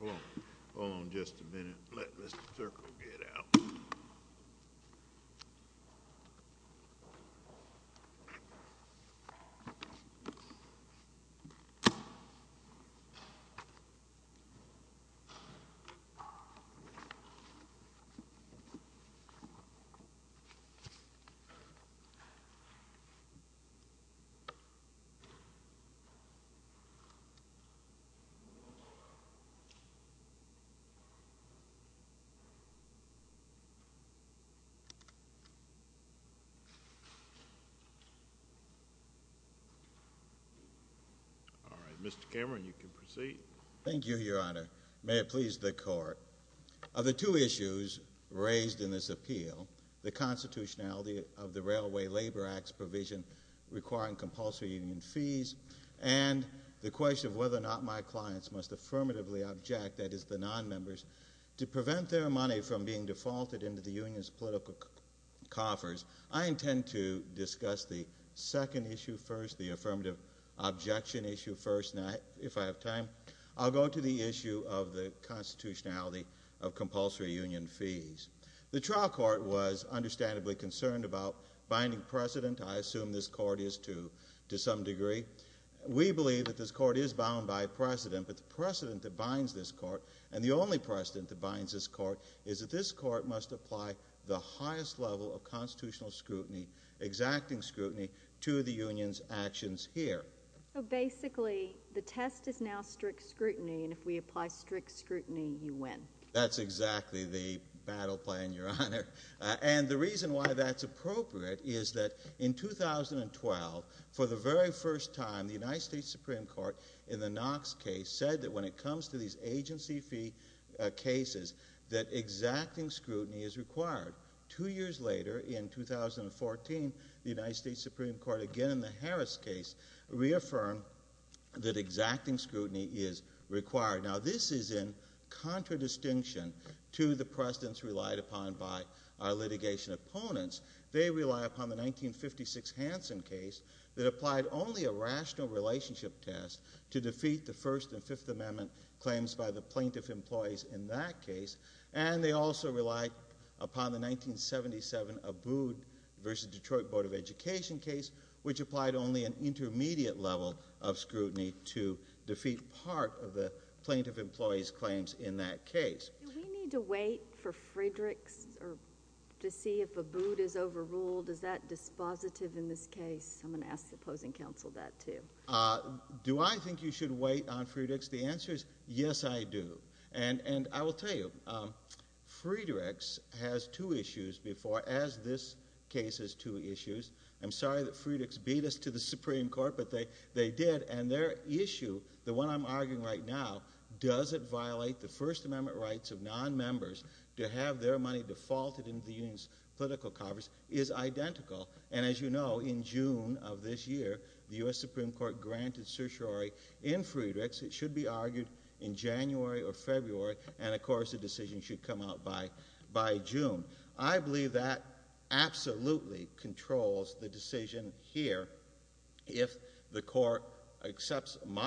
Hold on, hold on just a minute, let this circle get out. Hold on, hold on just a minute, let this circle get out. All right, Mr. Cameron, you can proceed. Thank you, Your Honor. May it please the Court, of the two issues raised in this appeal, the constitutionality of the Railway Labor Act's provision requiring compulsory union fees and the question of whether or not my clients must affirmatively object, that is the nonmembers, to prevent their money from being defaulted into the union's political coffers, I intend to discuss the second issue first, the affirmative objection issue first, and if I have time, I'll go to the issue of the constitutionality of compulsory union fees. The trial court was understandably concerned about binding precedent, I assume this court is to some degree. We believe that this court is bound by precedent, but the precedent that binds this court, and the only precedent that binds this court, is that this court must apply the highest level of constitutional scrutiny, exacting scrutiny, to the union's actions here. So basically, the test is now strict scrutiny, and if we apply strict scrutiny, you win. That's exactly the battle plan, Your Honor. And the reason why that's appropriate is that in 2012, for the very first time, the United States agency fee cases, that exacting scrutiny is required. Two years later, in 2014, the United States Supreme Court, again in the Harris case, reaffirmed that exacting scrutiny is required. Now this is in contradistinction to the precedents relied upon by our litigation opponents. They rely upon the 1956 Hansen case that applied only a rational relationship test to defeat the First and Fifth Amendment claims by the plaintiff employees in that case. And they also relied upon the 1977 Abood v. Detroit Board of Education case, which applied only an intermediate level of scrutiny to defeat part of the plaintiff employees' claims in that case. Do we need to wait for Friedrichs, or to see if Abood is overruled, is that dispositive in this case? I'm going to ask the opposing counsel that, too. Do I think you should wait on Friedrichs? The answer is, yes, I do. And I will tell you, Friedrichs has two issues before, as this case has two issues. I'm sorry that Friedrichs beat us to the Supreme Court, but they did. And their issue, the one I'm arguing right now, does it violate the First Amendment rights of non-members to have their money defaulted into the union's political coverage, is identical. And as you know, in June of this year, the U.S. Supreme Court granted certiorari in Friedrichs. It should be argued in January or February, and, of course, the decision should come out by June. I believe that absolutely controls the decision here, if the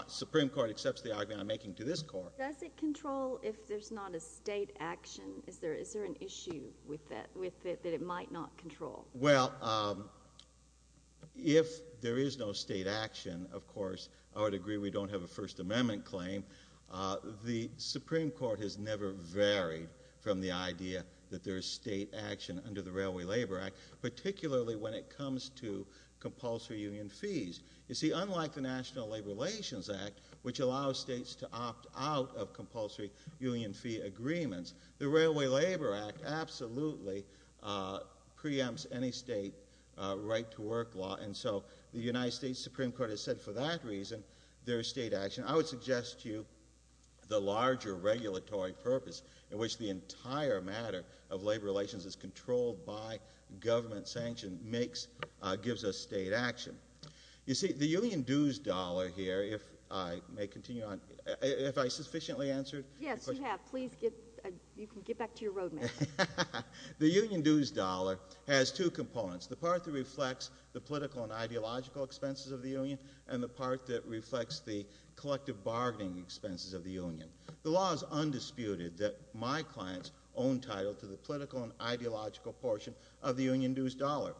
Supreme Court accepts the argument I'm making to this Court. Does it control if there's not a state action? Is there an issue with it that it might not control? Well, if there is no state action, of course, I would agree we don't have a First Amendment claim. The Supreme Court has never varied from the idea that there's state action under the Railway Labor Act, particularly when it comes to compulsory union fees. You see, unlike the National Labor Relations Act, which allows states to opt out of compulsory union fee agreements, the Railway Labor Act absolutely preempts any state right-to-work law, and so the United States Supreme Court has said for that reason there's state action. I would suggest to you the larger regulatory purpose in which the entire matter of labor relations is controlled by government sanction gives us state action. You see, the union dues dollar here, if I may continue on, have I sufficiently answered? Yes, you have. Please, you can get back to your road map. The union dues dollar has two components, the part that reflects the political and ideological expenses of the union, and the part that reflects the collective bargaining expenses of the union. The law is undisputed that my clients own title to the political and ideological portion of the union dues dollar.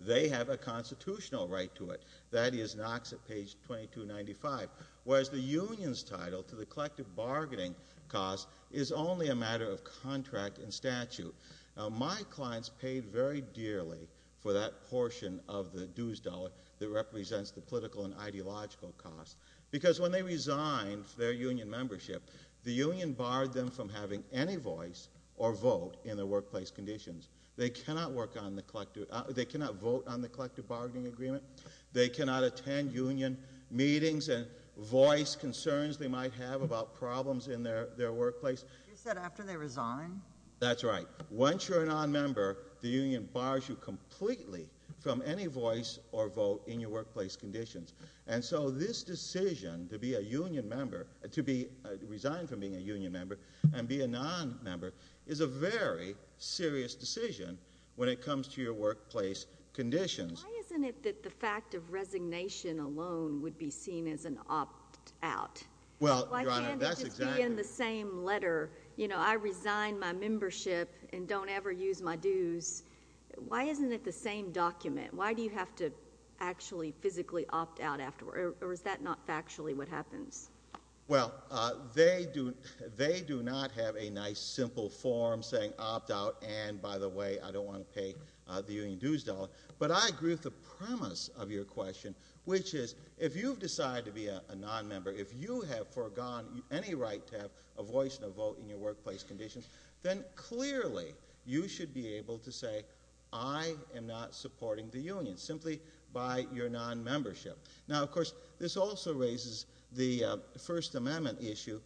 They have a constitutional right to it. That is Knox at page 2295, whereas the union's title to the collective bargaining cost is only a matter of contract and statute. My clients paid very dearly for that portion of the dues dollar that represents the political and ideological cost, because when they resigned for their union membership, the union barred them from having any voice or vote in the workplace conditions. They cannot work on the collective—they cannot vote on the collective bargaining agreement. They cannot attend union meetings and voice concerns they might have about problems in their workplace. You said after they resign? That's right. Once you're a non-member, the union bars you completely from any voice or vote in your workplace conditions. And so this decision to be a union member—to be—resign from being a union member and be a non-member is a very serious decision when it comes to your workplace conditions. Why isn't it that the fact of resignation alone would be seen as an opt-out? Well, Your Honor, that's exactly— Why can't it just be in the same letter? You know, I resign my membership and don't ever use my dues. Why isn't it the same document? Why do you have to actually physically opt out afterward? Or is that not factually what happens? Well, they do—they do not have a nice, simple form saying opt out and, by the way, I don't want to pay the union dues dollar. But I agree with the premise of your question, which is, if you've decided to be a non-member, if you have forgone any right to have a voice and a vote in your workplace conditions, then clearly you should be able to say, I am not supporting the union, simply by your non-membership. Now, of course, this also raises the First Amendment issue,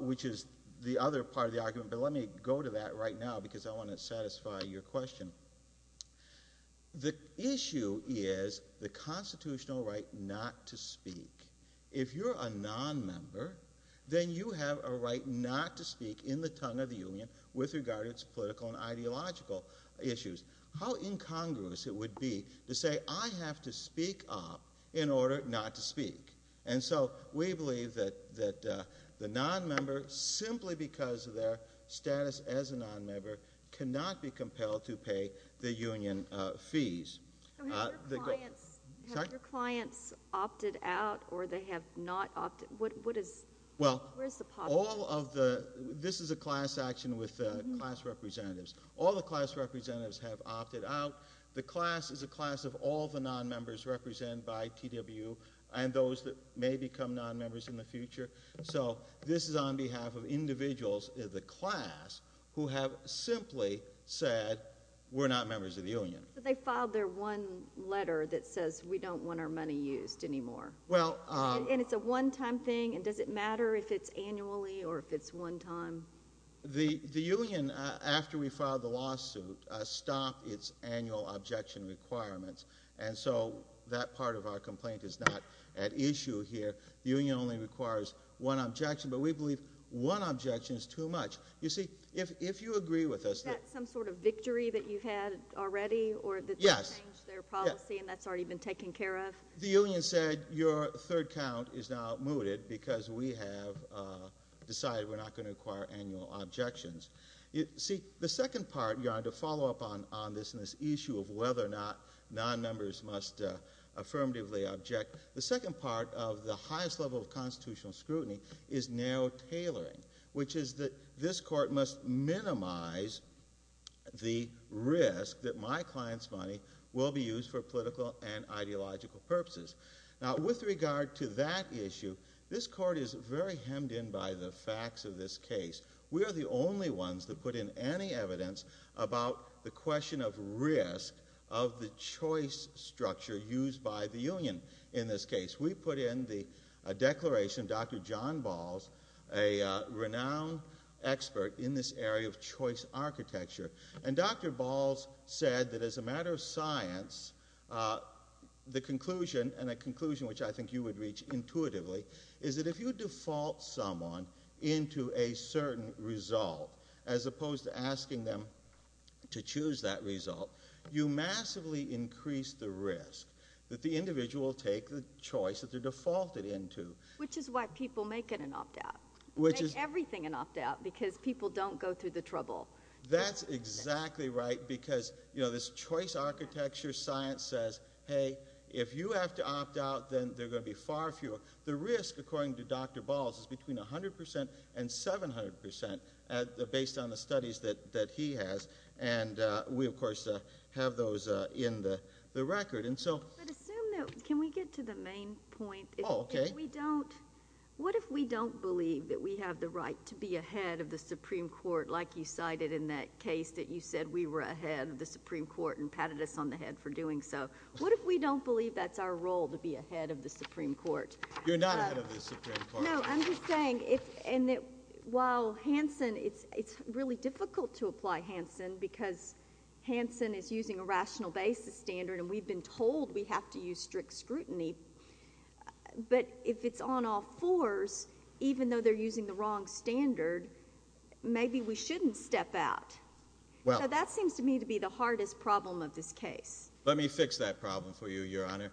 which is the other part of the argument, but let me go to that right now because I want to satisfy your question. The issue is the constitutional right not to speak. If you're a non-member, then you have a right not to speak in the tongue of the union with regard to its political and ideological issues. How incongruous it would be to say, I have to speak up in order not to speak. And so we believe that the non-member, simply because of their status as a non-member, cannot be compelled to pay the union fees. Have your clients opted out or they have not opted? What is, where's the positive? This is a class action with class representatives. All the class representatives have opted out. The class is a class of all the non-members represented by TWU and those that may become non-members in the future. So this is on behalf of individuals in the class who have simply said, we're not members of the union. But they filed their one letter that says, we don't want our money used anymore. Well. And it's a one-time thing and does it matter if it's annually or if it's one time? The union, after we filed the lawsuit, stopped its annual objection requirements. And so that part of our complaint is not at issue here. The union only requires one objection, but we believe one objection is too much. You see, if you agree with us. Is that some sort of victory that you've had already or that they've changed their policy and that's already been taken care of? The union said, your third count is now mooted because we have decided we're not going to require annual objections. You see, the second part, you're going to follow up on this issue of whether or not non-members must affirmatively object. The second part of the highest level of constitutional scrutiny is narrow tailoring, which is that this court must minimize the risk that my client's money will be used for political and ideological purposes. Now, with regard to that issue, this court is very hemmed in by the facts of this case. We are the only ones that put in any evidence about the question of risk of the choice structure used by the union in this case. We put in the declaration, Dr. John Balls, a renowned expert in this area of choice architecture. And Dr. Balls said that as a matter of science, the conclusion, and a conclusion which I think you would reach intuitively, is that if you default someone into a certain result, as the individual will take the choice that they're defaulted into. Which is why people make it an opt-out, make everything an opt-out, because people don't go through the trouble. That's exactly right, because this choice architecture science says, hey, if you have to opt out, then there are going to be far fewer. The risk, according to Dr. Balls, is between 100% and 700% based on the studies that he has. And we, of course, have those in the record. But assume that, can we get to the main point? Oh, okay. If we don't, what if we don't believe that we have the right to be ahead of the Supreme Court, like you cited in that case that you said we were ahead of the Supreme Court and patted us on the head for doing so? What if we don't believe that's our role, to be ahead of the Supreme Court? You're not ahead of the Supreme Court. No, I'm just saying, while Hanson, it's really difficult to apply Hanson, because Hanson is using a rational basis standard, and we've been told we have to use strict scrutiny. But if it's on all fours, even though they're using the wrong standard, maybe we shouldn't step out. Well. So that seems to me to be the hardest problem of this case. Let me fix that problem for you, Your Honor.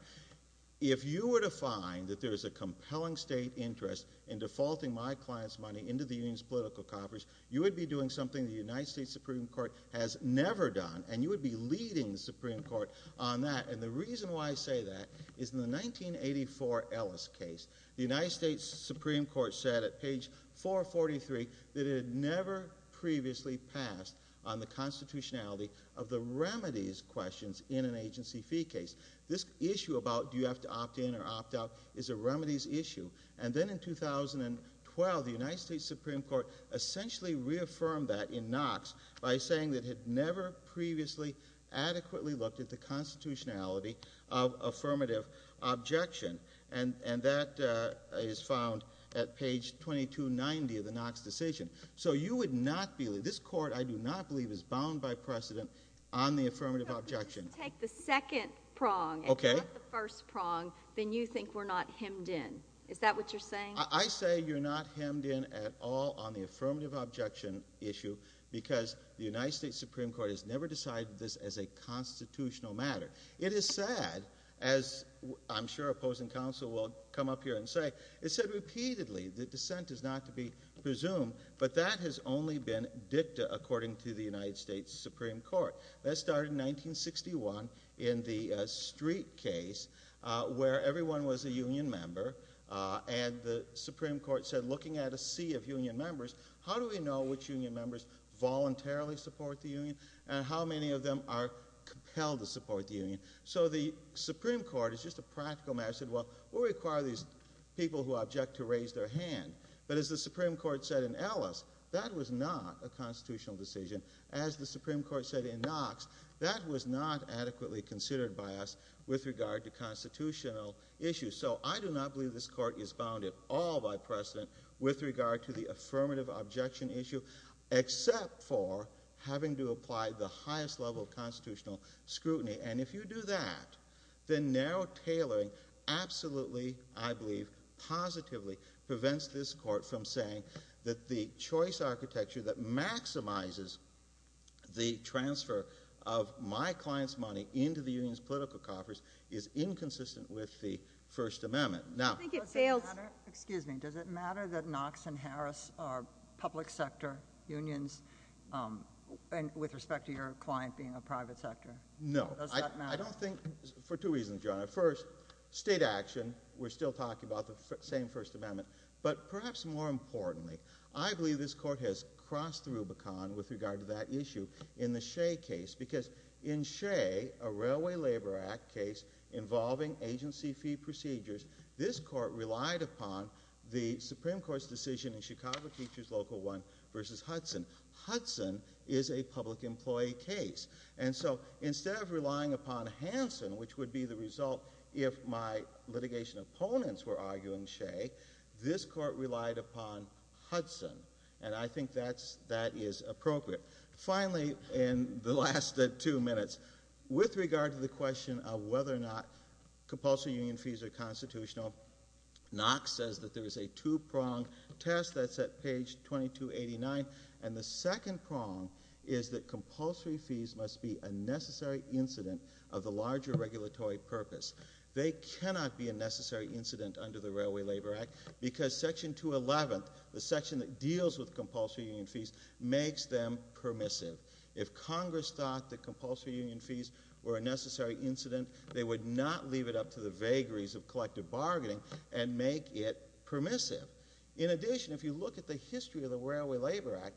If you were to find that there is a compelling state interest in defaulting my client's money into the union's political coffers, you would be doing something the United States Supreme Court has never done, and you would be leading the Supreme Court on that. And the reason why I say that is in the 1984 Ellis case, the United States Supreme Court said at page 443 that it had never previously passed on the constitutionality of the remedies questions in an agency fee case. This issue about do you have to opt in or opt out is a remedies issue. And then in 2012, the United States Supreme Court essentially reaffirmed that in Knox by saying that it had never previously adequately looked at the constitutionality of affirmative objection. And that is found at page 2290 of the Knox decision. So you would not believe, this court I do not believe is bound by precedent on the affirmative objection. If you take the second prong and you let the first prong, then you think we're not hemmed in. Is that what you're saying? I say you're not hemmed in at all on the affirmative objection issue because the United States Supreme Court has never decided this as a constitutional matter. It is sad, as I'm sure opposing counsel will come up here and say, it said repeatedly the dissent is not to be presumed, but that has only been dicta according to the United States Supreme Court. That started in 1961 in the street case where everyone was a union member and the Supreme Court said looking at a sea of union members, how do we know which union members voluntarily support the union and how many of them are compelled to support the union? So the Supreme Court is just a practical matter, said, well, we require these people who object to raise their hand. But as the Supreme Court said in Ellis, that was not a constitutional decision. As the Supreme Court said in Knox, that was not adequately considered by us with regard to constitutional issues. So I do not believe this court is bounded at all by precedent with regard to the affirmative objection issue, except for having to apply the highest level of constitutional scrutiny. And if you do that, then narrow tailoring absolutely, I believe, positively prevents this court from saying that the choice architecture that maximizes the transfer of my client's money into the union's political coffers is inconsistent with the First Amendment. Now— I think it fails— Does it matter? Excuse me. Does it matter that Knox and Harris are public sector unions with respect to your client being a private sector? Does that matter? I don't think—for two reasons, Your Honor. First, state action, we're still talking about the same First Amendment. But perhaps more importantly, I believe this court has crossed the Rubicon with regard to that issue in the Shea case. Because in Shea, a Railway Labor Act case involving agency fee procedures, this court relied upon the Supreme Court's decision in Chicago Teachers Local 1 v. Hudson. Hudson is a public employee case. And so, instead of relying upon Hansen, which would be the result if my litigation opponents were arguing Shea, this court relied upon Hudson. And I think that is appropriate. Finally, in the last two minutes, with regard to the question of whether or not compulsory union fees are constitutional, Knox says that there is a two-prong test that's at page 2289. And the second prong is that compulsory fees must be a necessary incident of the larger regulatory purpose. They cannot be a necessary incident under the Railway Labor Act because Section 211, the section that deals with compulsory union fees, makes them permissive. If Congress thought that compulsory union fees were a necessary incident, they would not leave it up to the vagaries of collective bargaining and make it permissive. In addition, if you look at the history of the Railway Labor Act,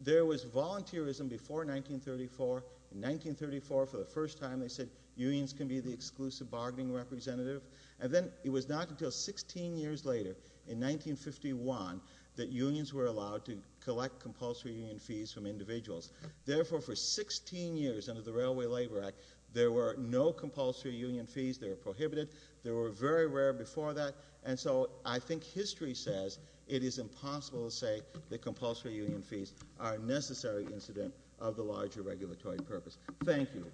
there was volunteerism before 1934. In 1934, for the first time, they said unions can be the exclusive bargaining representative. And then it was not until 16 years later, in 1951, that unions were allowed to collect compulsory union fees from individuals. Therefore, for 16 years under the Railway Labor Act, there were no compulsory union fees. They were prohibited. They were very rare before that. And so, I think history says it is impossible to say that compulsory union fees are a necessary incident of the larger regulatory purpose. Thank you.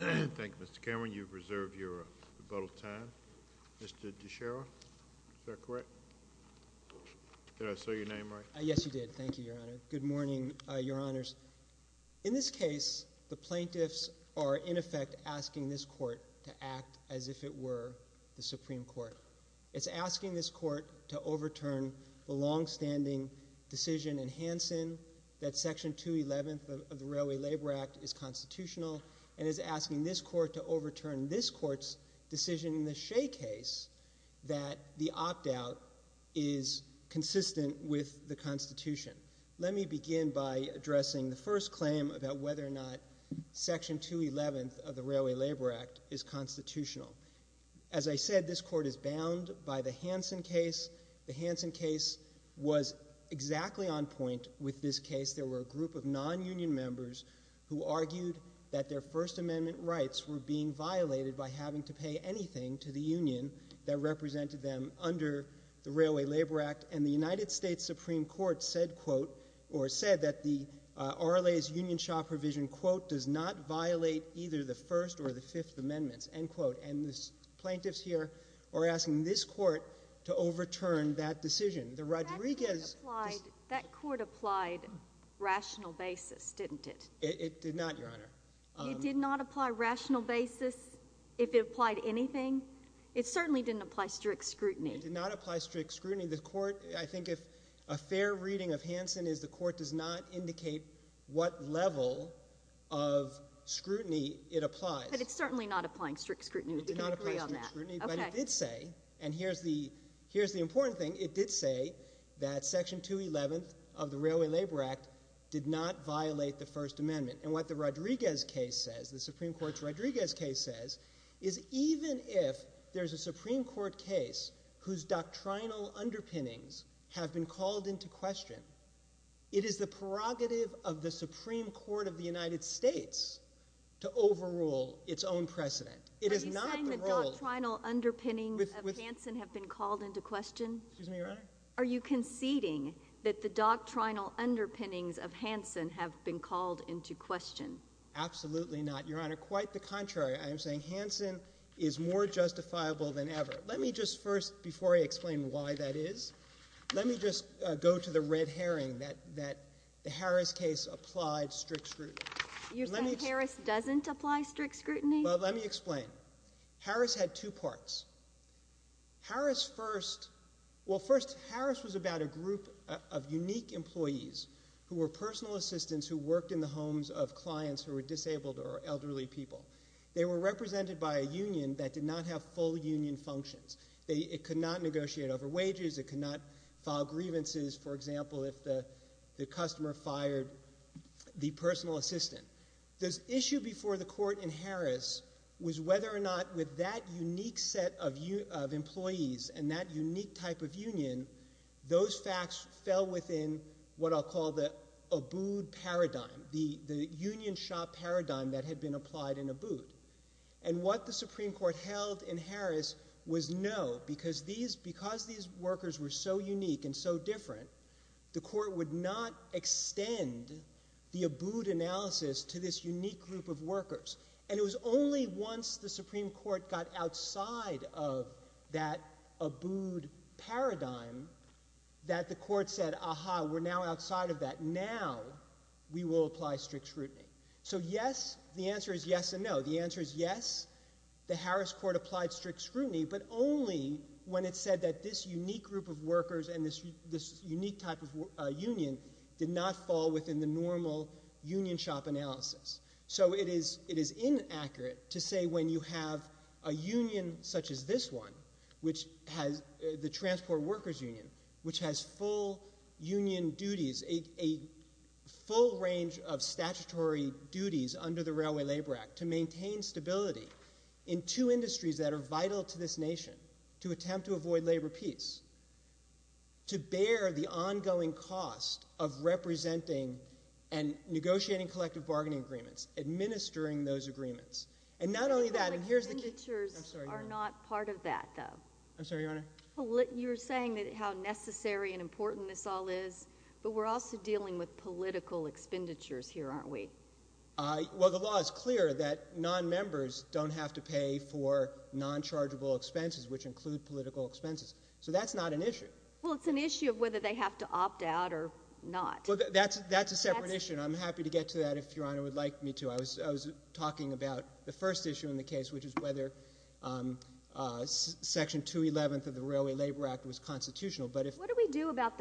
Thank you, Mr. Cameron. You've reserved your rebuttal time. Mr. DeSheriff, is that correct? Did I say your name right? Yes, you did. Thank you, Your Honor. Good morning, Your Honors. In this case, the plaintiffs are, in effect, asking this Court to act as if it were the Supreme Court. It's asking this Court to overturn the longstanding decision in Hansen that Section 211 of the Railway Labor Act is constitutional, and it's asking this Court to overturn this Court's decision in the Shea case that the opt-out is consistent with the Constitution. Let me begin by addressing the first claim about whether or not Section 211 of the Railway Labor Act is constitutional. As I said, this Court is bound by the Hansen case. The Hansen case was exactly on point with this case. There were a group of non-union members who argued that their First Amendment rights were being violated by having to pay anything to the union that represented them under the Railway Labor Act, and the United States Supreme Court said, quote, or said that the RLA's and the plaintiffs here are asking this Court to overturn that decision. The Rodriguez decision — That court applied rational basis, didn't it? It did not, Your Honor. It did not apply rational basis, if it applied anything? It certainly didn't apply strict scrutiny. It did not apply strict scrutiny. The Court, I think, if a fair reading of Hansen is the Court does not indicate what level of scrutiny it applies. But it's certainly not applying strict scrutiny. We can agree on that. It did not apply strict scrutiny, but it did say, and here's the important thing, it did say that Section 211 of the Railway Labor Act did not violate the First Amendment. And what the Rodriguez case says, the Supreme Court's Rodriguez case says, is even if there's a Supreme Court case whose doctrinal underpinnings have been called into question, it is the its own precedent. It is not the role — Are you saying the doctrinal underpinnings of Hansen have been called into question? Excuse me, Your Honor? Are you conceding that the doctrinal underpinnings of Hansen have been called into question? Absolutely not, Your Honor. Quite the contrary. I am saying Hansen is more justifiable than ever. Let me just first, before I explain why that is, let me just go to the red herring that the Harris case applied strict scrutiny. You're saying Harris doesn't apply strict scrutiny? Well, let me explain. Harris had two parts. Harris first — well, first, Harris was about a group of unique employees who were personal assistants who worked in the homes of clients who were disabled or elderly people. They were represented by a union that did not have full union functions. It could not negotiate over wages. It could not file grievances. For example, if the customer fired the personal assistant. This issue before the court in Harris was whether or not with that unique set of employees and that unique type of union, those facts fell within what I'll call the Abood paradigm, the union shop paradigm that had been applied in Abood. And what the Supreme Court held in Harris was no, because these workers were so unique and so different, the court would not extend the Abood analysis to this unique group of workers. And it was only once the Supreme Court got outside of that Abood paradigm that the court said, ah-ha, we're now outside of that, now we will apply strict scrutiny. So yes, the answer is yes and no. The answer is yes, the Harris court applied strict scrutiny, but only when it said that this unique group of workers and this unique type of union did not fall within the normal union shop analysis. So it is inaccurate to say when you have a union such as this one, which has the transport workers union, which has full union duties, a full range of statutory duties under the Railway Labor Act to maintain stability in two industries that are vital to this nation, to attempt to avoid labor peace, to bear the ongoing cost of representing and negotiating collective bargaining agreements, administering those agreements. And not only that, and here's the key. I'm sorry, Your Honor. Expenditures are not part of that, though. I'm sorry, Your Honor. You're saying that how necessary and important this all is, but we're also dealing with political expenditures here, aren't we? Well, the law is clear that non-members don't have to pay for non-chargeable expenses, which include political expenses. So that's not an issue. Well, it's an issue of whether they have to opt out or not. Well, that's a separate issue, and I'm happy to get to that if Your Honor would like me to. I was talking about the first issue in the case, which is whether Section 211 of the Railway Labor Act was constitutional. But if— Justice Leito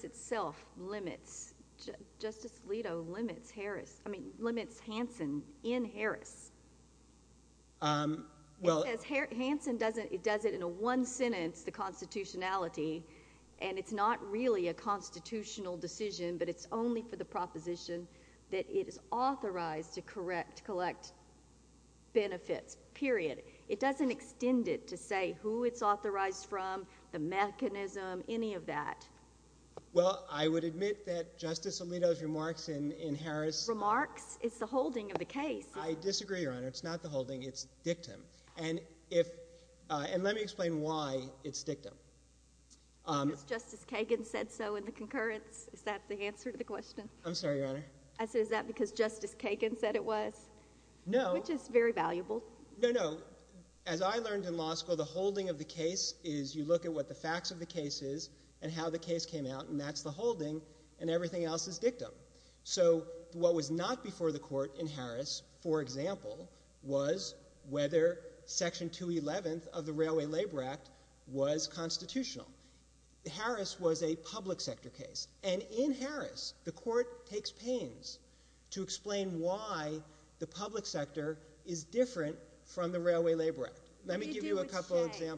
himself limits—Justice Leito limits Harris—I mean, limits Hansen in Harris. Well— Because Hansen doesn't—he does it in one sentence, the constitutionality, and it's not really a constitutional decision, but it's only for the proposition that it is authorized to collect benefits, period. It doesn't extend it to say who it's authorized from, the mechanism, any of that. Well, I would admit that Justice Leito's remarks in Harris— Remarks? It's the holding of the case. I disagree, Your Honor. It's not the holding. It's dictum. And if—and let me explain why it's dictum. Because Justice Kagan said so in the concurrence? Is that the answer to the question? I'm sorry, Your Honor. I said, is that because Justice Kagan said it was? No. Which is very valuable. No, no. As I learned in law school, the holding of the case is you look at what the facts of the case is and how the case came out, and that's the holding, and everything else is dictum. So what was not before the court in Harris, for example, was whether Section 211 of the Railway Labor Act was constitutional. Harris was a public sector case, and in Harris, the court takes pains to explain why the public sector is different from the Railway Labor Act. What do you do with Shea?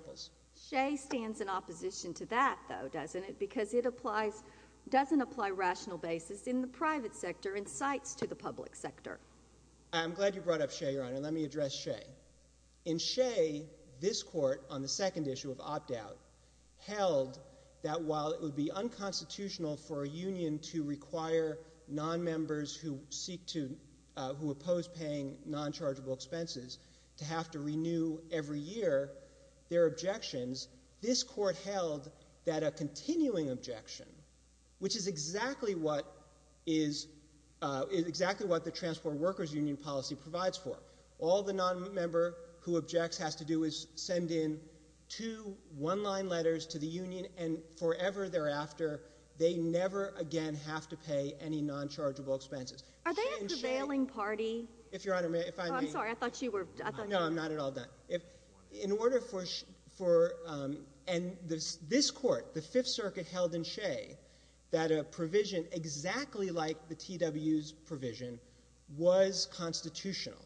Shea stands in opposition to that, though, doesn't it? Because it applies—doesn't apply rational basis in the private sector and cites to the public sector. I'm glad you brought up Shea, Your Honor. Let me address Shea. In Shea, this court, on the second issue of opt-out, held that while it would be unconstitutional for a union to require nonmembers who seek to—who oppose paying nonchargeable expenses to have to renew every year their objections, this court held that a continuing objection, which is exactly what is—is exactly what the Transport Workers Union policy provides for. All the nonmember who objects has to do is send in two one-line letters to the union, and forever thereafter, they never again have to pay any nonchargeable expenses. Are they a prevailing party? If Your Honor may—if I may. No, I'm sorry. I thought you were— No, I'm not at all done. If—in order for—for—and this court, the Fifth Circuit, held in Shea that a provision exactly like the TWU's provision was constitutional.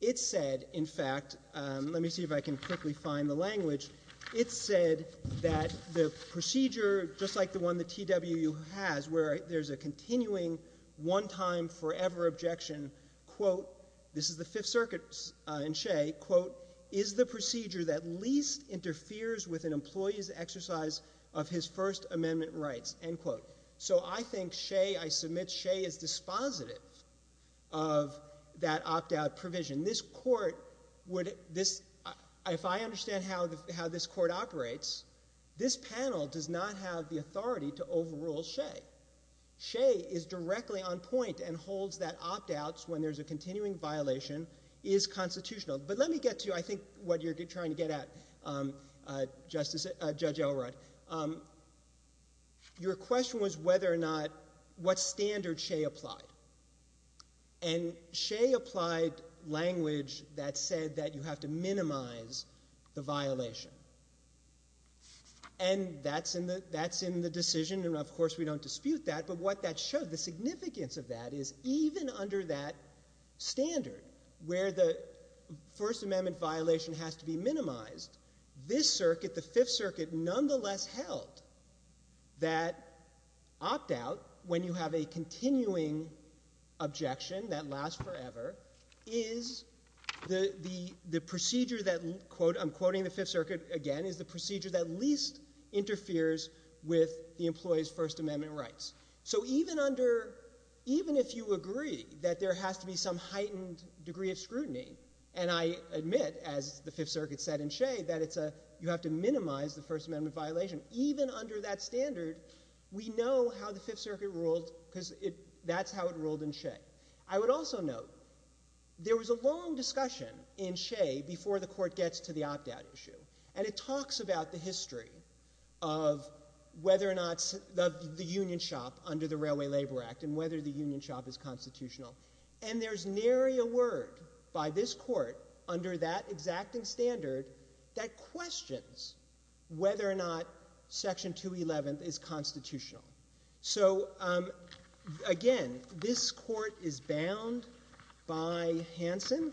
It said, in fact—let me see if I can quickly find the language. It said that the procedure, just like the one the TWU has, where there's a continuing one-time forever objection, quote, this is the Fifth Circuit in Shea, quote, is the procedure that least interferes with an employee's exercise of his First Amendment rights, end quote. So I think Shea—I submit Shea is dispositive of that opt-out provision. This court would—this—if I understand how this court operates, this panel does not have the authority to overrule Shea. Shea is directly on point and holds that opt-outs, when there's a continuing violation, is constitutional. But let me get to, I think, what you're trying to get at, Justice—Judge Elrod. Your question was whether or not—what standard Shea applied, and Shea applied language that said that you have to minimize the violation, and that's in the—that's in the decision, and of course we don't dispute that, but what that showed, the significance of that is even under that standard, where the First Amendment violation has to be minimized, this circuit, the Fifth Circuit, nonetheless held that opt-out, when you have a continuing objection that lasts forever, is the procedure that, quote—I'm quoting the Fifth Circuit again—is the procedure that least interferes with the employee's First Amendment rights. So even under—even if you agree that there has to be some heightened degree of scrutiny, and I admit, as the Fifth Circuit said in Shea, that it's a—you have to minimize the First Amendment violation, even under that standard, we know how the Fifth Circuit ruled, because it—that's how it ruled in Shea. I would also note, there was a long discussion in Shea before the court gets to the opt-out issue, and it talks about the history of whether or not the union shop under the Railway Labor Act, and whether the union shop is constitutional, and there's nary a word by this court, under that exacting standard, that questions whether or not Section 211 is constitutional. So, again, this court is bound by Hansen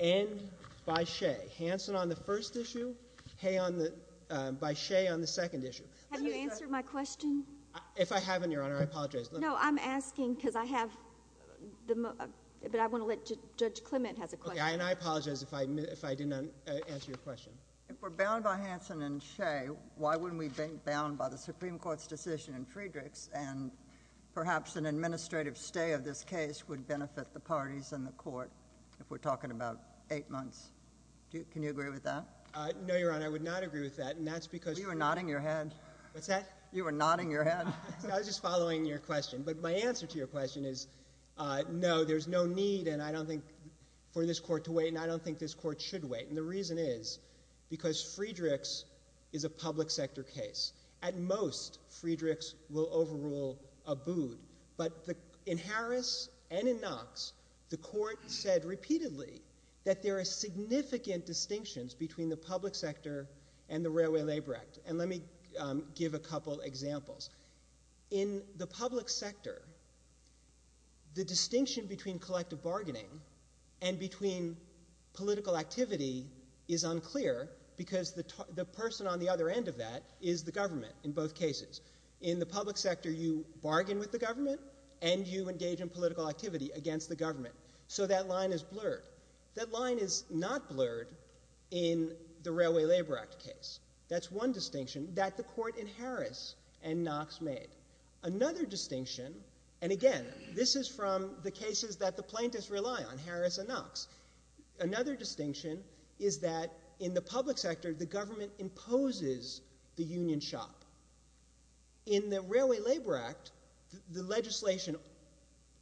and by Shea. Hansen on the first issue, Hea on the—by Shea on the second issue. Have you answered my question? If I haven't, Your Honor, I apologize. No, I'm asking because I have the—but I want to let—Judge Clement has a question. Okay, and I apologize if I didn't answer your question. If we're bound by Hansen and Shea, why wouldn't we be bound by the Supreme Court's decision in Friedrichs? And perhaps an administrative stay of this case would benefit the parties in the court, if we're talking about eight months. Can you agree with that? No, Your Honor, I would not agree with that, and that's because— You were nodding your head. What's that? You were nodding your head. I was just following your question. But my answer to your question is, no, there's no need, and I don't think—for this court to wait, and I don't think this court should wait. And the reason is because Friedrichs is a public sector case. At most, Friedrichs will overrule Abood. But in Harris and in Knox, the court said repeatedly that there are significant distinctions between the public sector and the Railway Labor Act. And let me give a couple examples. In the public sector, the distinction between collective bargaining and between political activity is unclear because the person on the other end of that is the government in both cases. In the public sector, you bargain with the government, and you engage in political activity against the government. So that line is blurred. That line is not blurred in the Railway Labor Act case. That's one distinction that the court in Harris and Knox made. Another distinction—and again, this is from the cases that the plaintiffs rely on, Harris and Knox—another distinction is that in the public sector, the government imposes the union shop. In the Railway Labor Act, the legislation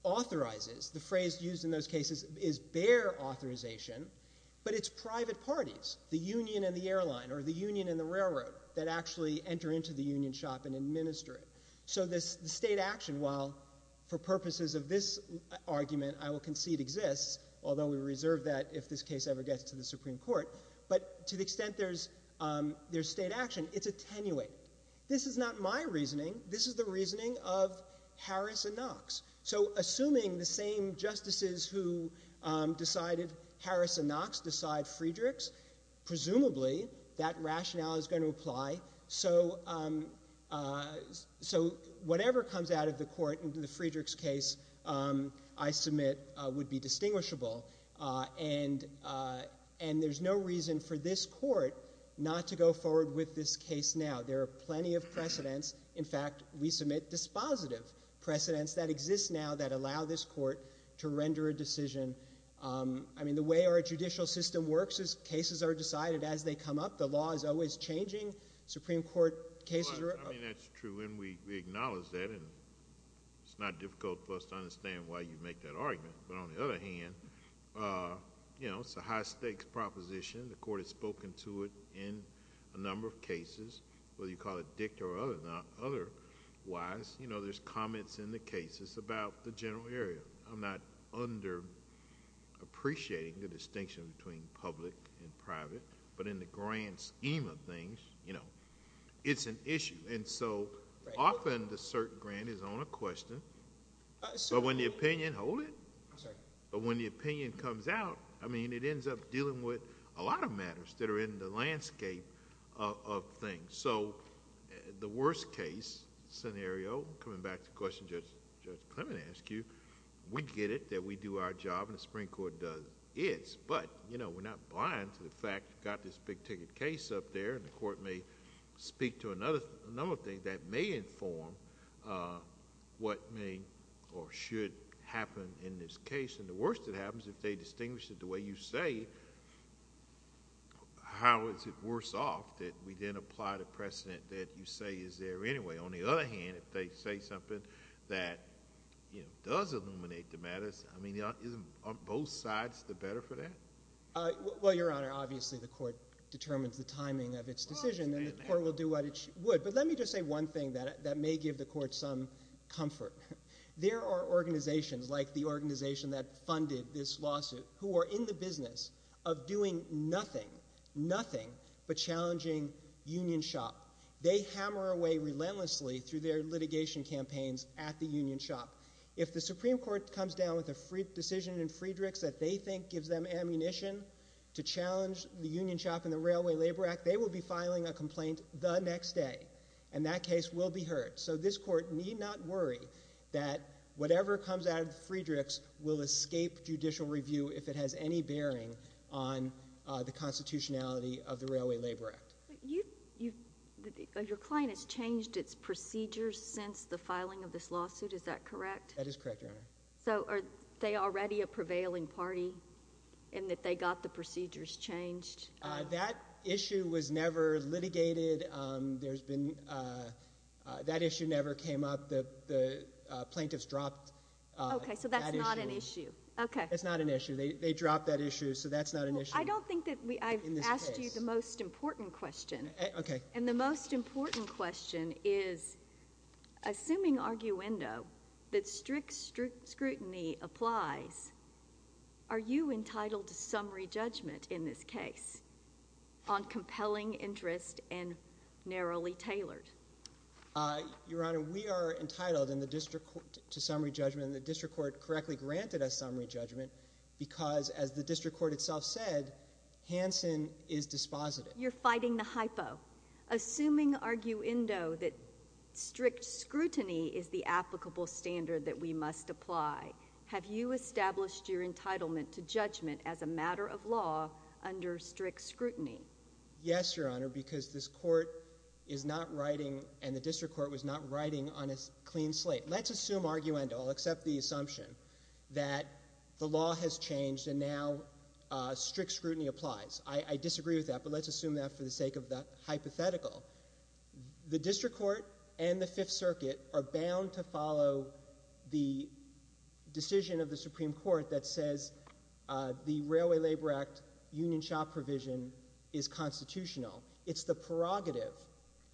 authorizes—the phrase used in those cases is bear authorization—but it's private parties, the union and the airline or the union and the railroad, that actually enter into the union shop and administer it. So the state action, while for purposes of this argument I will concede exists, although we reserve that if this case ever gets to the Supreme Court, but to the extent there's state action, it's attenuated. This is not my reasoning. This is the reasoning of Harris and Knox. So assuming the same justices who decided Harris and Knox decide Friedrichs, presumably that rationale is going to apply. So whatever comes out of the court in the Friedrichs case I submit would be distinguishable. And there's no reason for this court not to go forward with this case now. There are plenty of precedents. In fact, we submit dispositive precedents that exist now that allow this court to render a decision. I mean, the way our judicial system works is cases are decided as they come up. The law is always changing. Supreme Court cases are— I mean, that's true, and we acknowledge that. And it's not difficult for us to understand why you make that argument. But on the other hand, you know, it's a high-stakes proposition. The court has spoken to it in a number of cases, whether you call it dicta or otherwise. You know, there's comments in the cases about the general area. I'm not underappreciating the distinction between public and private, but in the grand scheme of things, you know, it's an issue. And so often the cert grant is on a question, but when the opinion comes out, I mean, it ends up dealing with a lot of matters that are in the landscape of things. So, the worst case scenario, coming back to the question Judge Clement asked you, we get it that we do our job and the Supreme Court does its, but, you know, we're not blind to the fact you've got this big ticket case up there and the court may speak to another thing that may inform what may or should happen in this case. And the worst that happens if they distinguish it the way you say, how is it worse off that we didn't apply the precedent that you say is there anyway? On the other hand, if they say something that, you know, does illuminate the matters, I mean, on both sides, the better for that? Well, Your Honor, obviously the court determines the timing of its decision and the court will do what it would. But let me just say one thing that may give the court some comfort. There are organizations, like the organization that funded this lawsuit, who are in the of doing nothing, nothing, but challenging Union Shop. They hammer away relentlessly through their litigation campaigns at the Union Shop. If the Supreme Court comes down with a decision in Friedrichs that they think gives them ammunition to challenge the Union Shop and the Railway Labor Act, they will be filing a complaint the next day. And that case will be heard. So, this court need not worry that whatever comes out of Friedrichs will escape judicial review if it has any bearing on the constitutionality of the Railway Labor Act. Your client has changed its procedures since the filing of this lawsuit, is that correct? That is correct, Your Honor. So, are they already a prevailing party in that they got the procedures changed? That issue was never litigated. That issue never came up. The plaintiffs dropped that issue. Okay, so that's not an issue. Okay. They dropped that issue, so that's not an issue. I don't think that I've asked you the most important question. Okay. And the most important question is, assuming arguendo, that strict scrutiny applies, are you entitled to summary judgment in this case on compelling interest and narrowly tailored? Your Honor, we are entitled to summary judgment. The district court correctly granted us summary judgment because, as the district court itself said, Hansen is dispositive. You're fighting the hypo. Assuming arguendo, that strict scrutiny is the applicable standard that we must apply, have you established your entitlement to judgment as a matter of law under strict scrutiny? Yes, Your Honor, because this court is not writing, and the district court was not writing on a clean slate. Let's assume arguendo. I'll accept the assumption that the law has changed and now strict scrutiny applies. I disagree with that, but let's assume that for the sake of the hypothetical. The district court and the Fifth Circuit are bound to follow the decision of the Supreme Court that says the Railway Labor Act union shop provision is constitutional. It's the prerogative.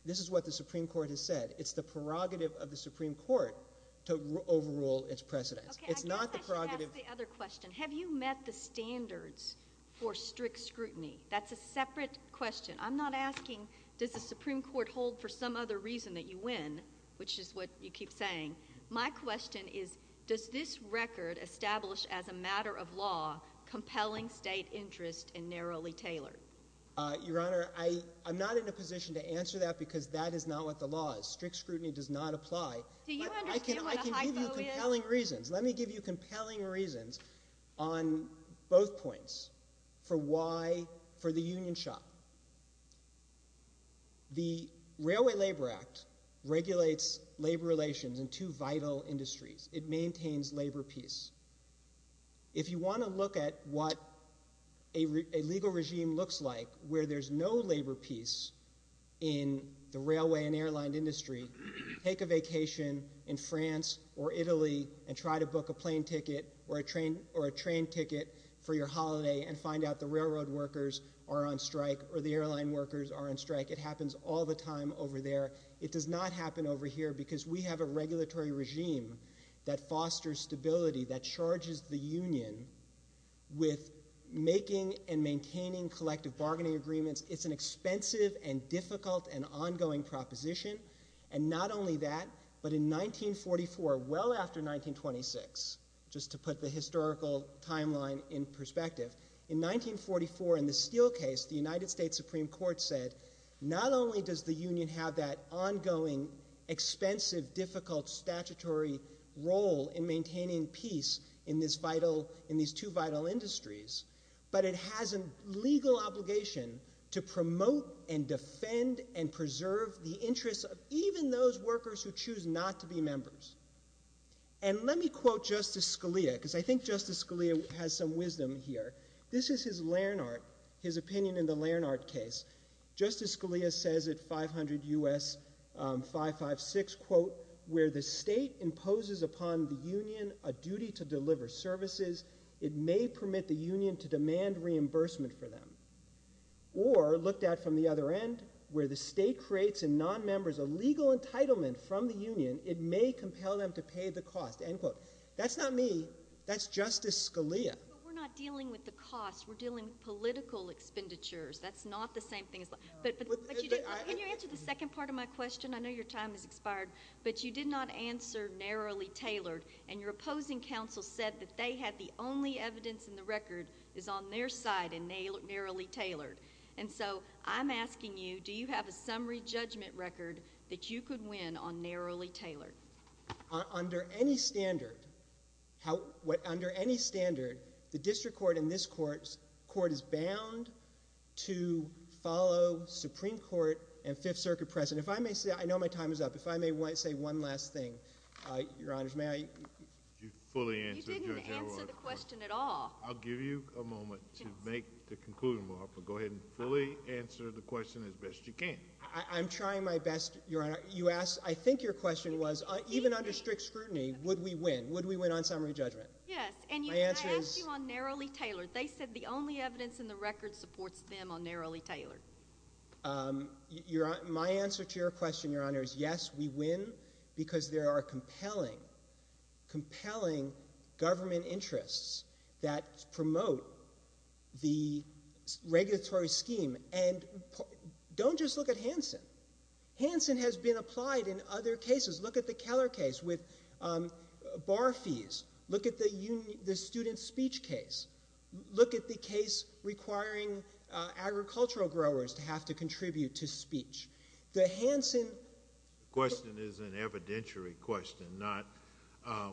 This is what the Supreme Court has said. It's the prerogative of the Supreme Court to overrule its precedents. It's not the prerogative. I guess I should ask the other question. Have you met the standards for strict scrutiny? That's a separate question. I'm not asking, does the Supreme Court hold for some other reason that you win, which is what you keep saying. My question is, does this record establish as a matter of law compelling state interest and narrowly tailored? Your Honor, I'm not in a position to answer that because that is not what the law is. Strict scrutiny does not apply. Do you understand what a hypo is? I can give you compelling reasons. Let me give you compelling reasons on both points for why, for the union shop. The Railway Labor Act regulates labor relations in two vital industries. It maintains labor peace. If you want to look at what a legal regime looks like where there's no labor peace in the railway and airline industry, take a vacation in France or Italy and try to book a plane ticket or a train ticket for your holiday and find out the railroad workers are on strike or the airline workers are on strike. It happens all the time over there. It does not happen over here because we have a regulatory regime that fosters stability, that charges the union with making and maintaining collective bargaining agreements. It's an expensive and difficult and ongoing proposition. Not only that, but in 1944, well after 1926, just to put the historical timeline in perspective, in 1944 in the Steele case, the United States Supreme Court said not only does the union have that ongoing, expensive, difficult statutory role in maintaining peace in these two vital industries, but it has a legal obligation to promote and defend and preserve the interests of even those workers who choose not to be members. And let me quote Justice Scalia because I think Justice Scalia has some wisdom here. This is his Larnart, his opinion in the Larnart case. Justice Scalia says at 500 U.S. 556, quote, where the state imposes upon the union a duty to deliver services, it may permit the union to demand reimbursement for them. Or looked at from the other end, where the state creates in non-members a legal entitlement from the union, it may compel them to pay the cost, end quote. That's not me. That's Justice Scalia. But we're not dealing with the cost. We're dealing with political expenditures. That's not the same thing. Can you answer the second part of my question? I know your time has expired, but you did not answer narrowly tailored. And your opposing counsel said that they had the only evidence in the record is on their side in narrowly tailored. And so I'm asking you, do you have a summary judgment record that you could win on narrowly tailored? Under any standard, the district court and this court is bound to follow Supreme Court and Fifth Circuit precedent. If I may say, I know my time is up. If I may say one last thing, Your Honors. You fully answered the question at all. I'll give you a moment to make the conclusion, but go ahead and fully answer the question as best you can. I'm trying my best, Your Honor. You asked, I think your question was, even under strict scrutiny, would we win? Would we win on summary judgment? Yes. And I asked you on narrowly tailored. They said the only evidence in the record supports them on narrowly tailored. My answer to your question, Your Honor, is yes, we win because there are compelling compelling government interests that promote the regulatory scheme. And don't just look at Hansen. Hansen has been applied in other cases. Look at the Keller case with bar fees. Look at the student speech case. Look at the case requiring agricultural growers to have to contribute to speech. The Hansen question is an evidentiary question, not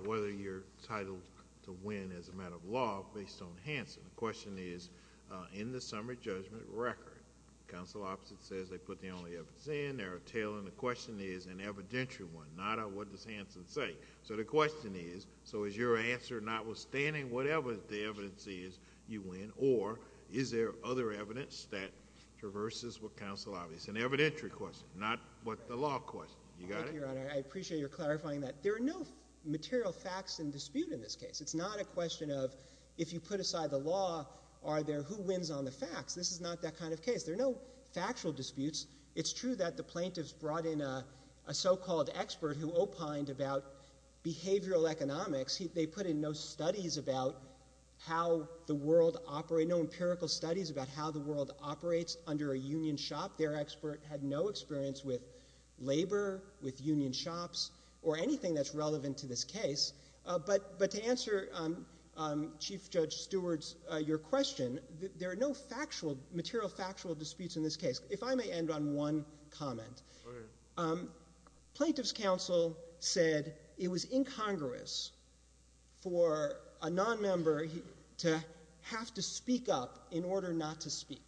whether you're titled to win as a matter of law based on Hansen. The question is, in the summary judgment record, the counsel opposite says they put the only evidence in, narrowly tailored. And the question is an evidentiary one, not a what does Hansen say. So the question is, so is your answer notwithstanding whatever the evidence is, you win? Or is there other evidence that traverses what counsel obvious? It's an evidentiary question, not what the law questions. You got it? Thank you, Your Honor. I appreciate your clarifying that. There are no material facts in dispute in this case. It's not a question of if you put aside the law, are there who wins on the facts? This is not that kind of case. There are no factual disputes. It's true that the plaintiffs brought in a so-called expert who opined about behavioral economics. They put in no studies about how the world operates, no empirical studies about how the world operates under a union shop. Their expert had no experience with labor, with union shops, or anything that's relevant to this case. But to answer Chief Judge Stewart's, your question, there are no factual, material factual disputes in this case. If I may end on one comment. Plaintiffs' counsel said it was incongruous for a nonmember to have to speak up in order not to speak.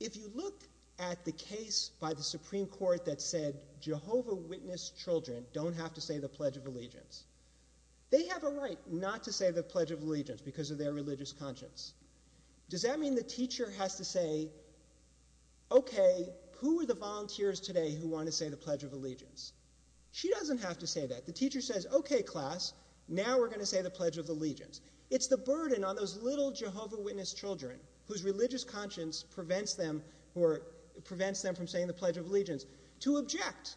If you look at the case by the Supreme Court that said Jehovah Witness children don't have to say the Pledge of Allegiance, they have a right not to say the Pledge of Allegiance because of their religious conscience. Does that mean the teacher has to say, okay, who are the volunteers today who want to say the Pledge of Allegiance? She doesn't have to say that. The teacher says, okay, class, now we're going to say the Pledge of Allegiance. It's the burden on those little Jehovah Witness children, whose religious conscience prevents them from saying the Pledge of Allegiance, to object.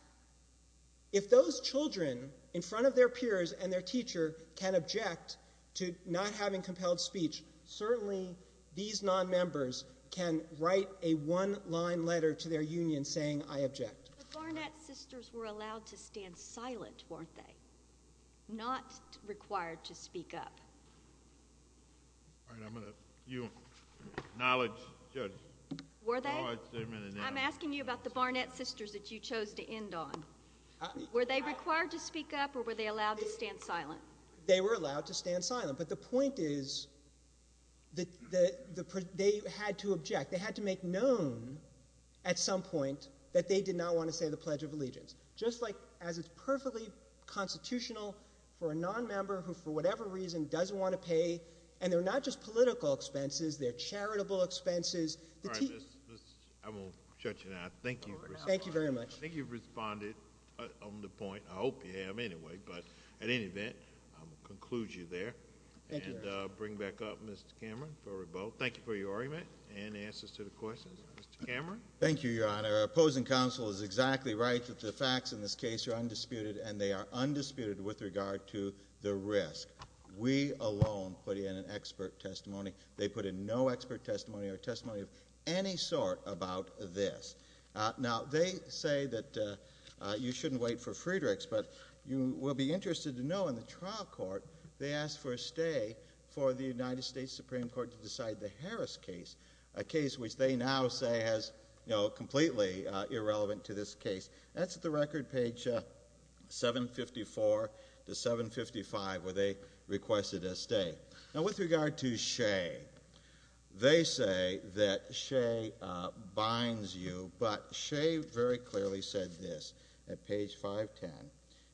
If those children, in front of their peers and their teacher, can object to not having compelled speech, certainly these nonmembers can write a one-line letter to their union saying, I object. The Barnett sisters were allowed to stand silent, weren't they? Not required to speak up. All right, I'm going to, you, knowledge judge. Were they? I'm asking you about the Barnett sisters that you chose to end on. Were they required to speak up or were they allowed to stand silent? They were allowed to stand silent, but the point is that they had to object. They had to make known at some point that they did not want to say the Pledge of Allegiance. Just like as it's perfectly constitutional for a nonmember who, for whatever reason, doesn't want to pay, and they're not just political expenses, they're charitable expenses. All right, I'm going to shut you now. Thank you. Thank you very much. I think you've responded on the point. I hope you have anyway, but at any event, I'm going to conclude you there. Thank you, Your Honor. And bring back up Mr. Cameron for rebuttal. Thank you for your argument and answers to the questions. Mr. Cameron? Thank you, Your Honor. Opposing counsel is exactly right that the facts in this case are undisputed and they are undisputed with regard to the risk. We alone put in an expert testimony. They put in no expert testimony or testimony of any sort about this. Now, they say that you shouldn't wait for Friedrichs, but you will be interested to know in the trial court, they asked for a stay for the United States Supreme Court to decide the Harris case, a case which they now say has, you know, completely irrelevant to this case. That's at the record page 754 to 755 where they requested a stay. Now, with regard to Shea, they say that Shea binds you, but Shea very clearly said this at page 510.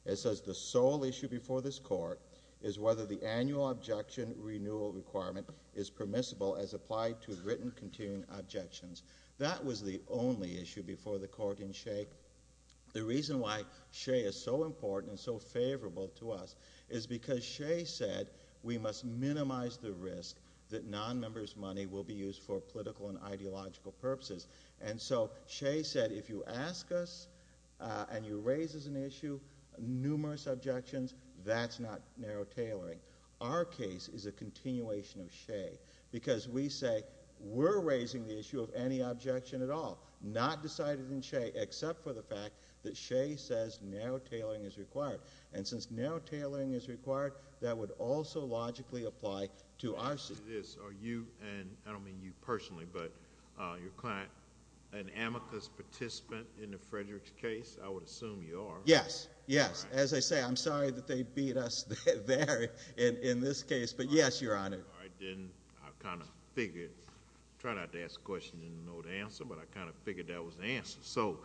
It says the sole issue before this court is whether the annual objection renewal requirement is permissible as applied to written continuing objections. That was the only issue before the court in Shea. The reason why Shea is so important and so favorable to us is because Shea said we must minimize the risk that non-member's money will be used for political and ideological purposes. And so, Shea said if you ask us and you raise as an issue numerous objections, that's not narrow tailoring. Our case is a continuation of Shea because we say we're raising the issue of any objection at all. Not decided in Shea except for the fact that Shea says narrow tailoring is required. And since narrow tailoring is required, that would also logically apply to our suit. It is. Are you, and I don't mean you personally, but your client, an amicus participant in the Fredericks case? I would assume you are. Yes. Yes. As I say, I'm sorry that they beat us there in this case. But yes, Your Honor. All right. Then I kind of figured, tried not to ask questions and not know the answer, but I kind of figured that was the answer. So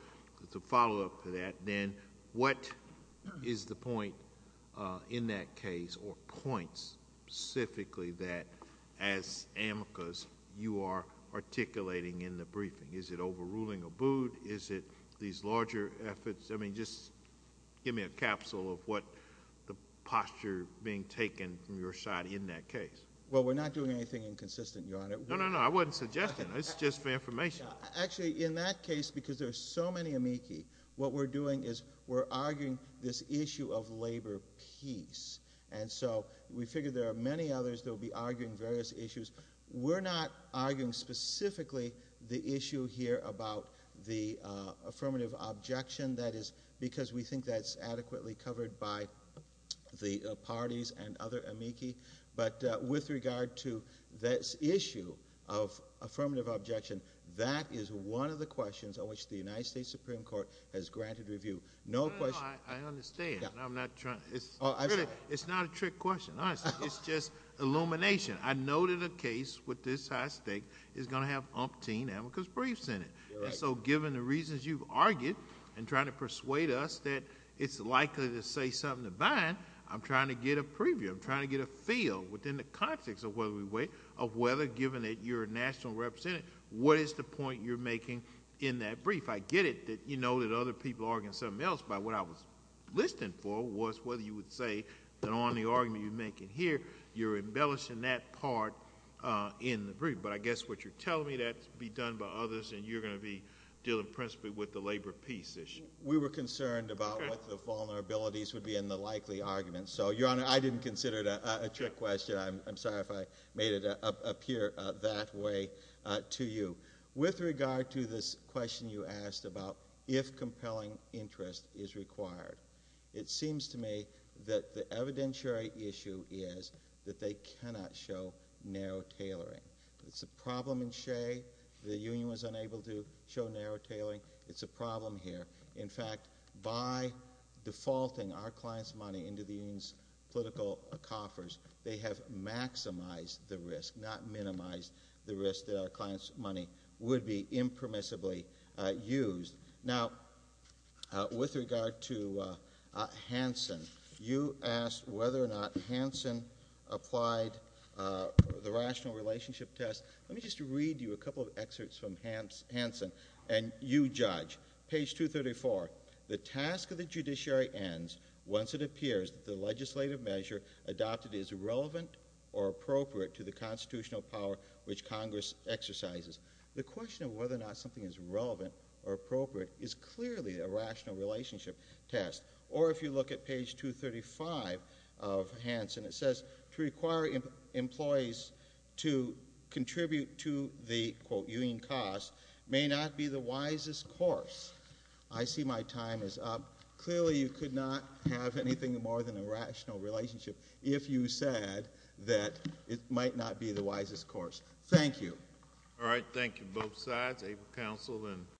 to follow up to that then, what is the point in that case or points specifically that as amicus you are articulating in the briefing? Is it overruling a boot? Is it these larger efforts? I mean, just give me a capsule of what the posture being taken from your side in that case. Well, we're not doing anything inconsistent, Your Honor. No, no, no. I wasn't suggesting. It's just for information. Actually, in that case, because there are so many amici, what we're doing is we're arguing this issue of labor peace. And so we figured there are many others that will be arguing various issues. We're not arguing specifically the issue here about the affirmative objection. That is because we think that's adequately covered by the parties and other amici. But with regard to this issue of affirmative objection, that is one of the questions on which the United States Supreme Court has granted review. No question— No, no, no. I understand. I'm not trying— It's not a trick question, honestly. It's just illumination. I know that a case with this high stake is going to have umpteen amicus briefs in it. And so, given the reasons you've argued and trying to persuade us that it's likely to say something divine, I'm trying to get a preview. I'm trying to get a feel within the context of whether, given that you're a national representative, what is the point you're making in that brief? I get it that you know that other people are arguing something else, but what I was listening for was whether you would say that on the argument you're making here, you're embellishing that part in the brief. But I guess what you're telling me, that's to be done by others, and you're going to be dealing principally with the labor peace issue. We were concerned about what the vulnerabilities would be in the likely argument. So, Your Honor, I didn't consider it a trick question. I'm sorry if I made it appear that way to you. With regard to this question you asked about if compelling interest is required, it seems to me that the evidentiary issue is that they cannot show narrow tailoring. It's a problem in Shea. The union was unable to show narrow tailoring. It's a problem here. In fact, by defaulting our client's money into the union's political coffers, they have maximized the risk, not minimized the risk that our client's money would be impermissibly used. Now, with regard to Hansen, you asked whether or not Hansen applied the rational relationship test. Let me just read you a couple of excerpts from Hansen, and you judge. Page 234, the task of the judiciary ends once it appears that the legislative measure adopted is relevant or appropriate to the constitutional power which Congress exercises. The question of whether or not something is relevant or appropriate is clearly a rational relationship test. Or if you look at page 235 of Hansen, it says, to require employees to contribute to the, quote, union costs may not be the wisest course. I see my time is up. Clearly, you could not have anything more than a rational relationship if you said that it might not be the wisest course. Thank you. All right. Thank you, both sides. Able counsel, then.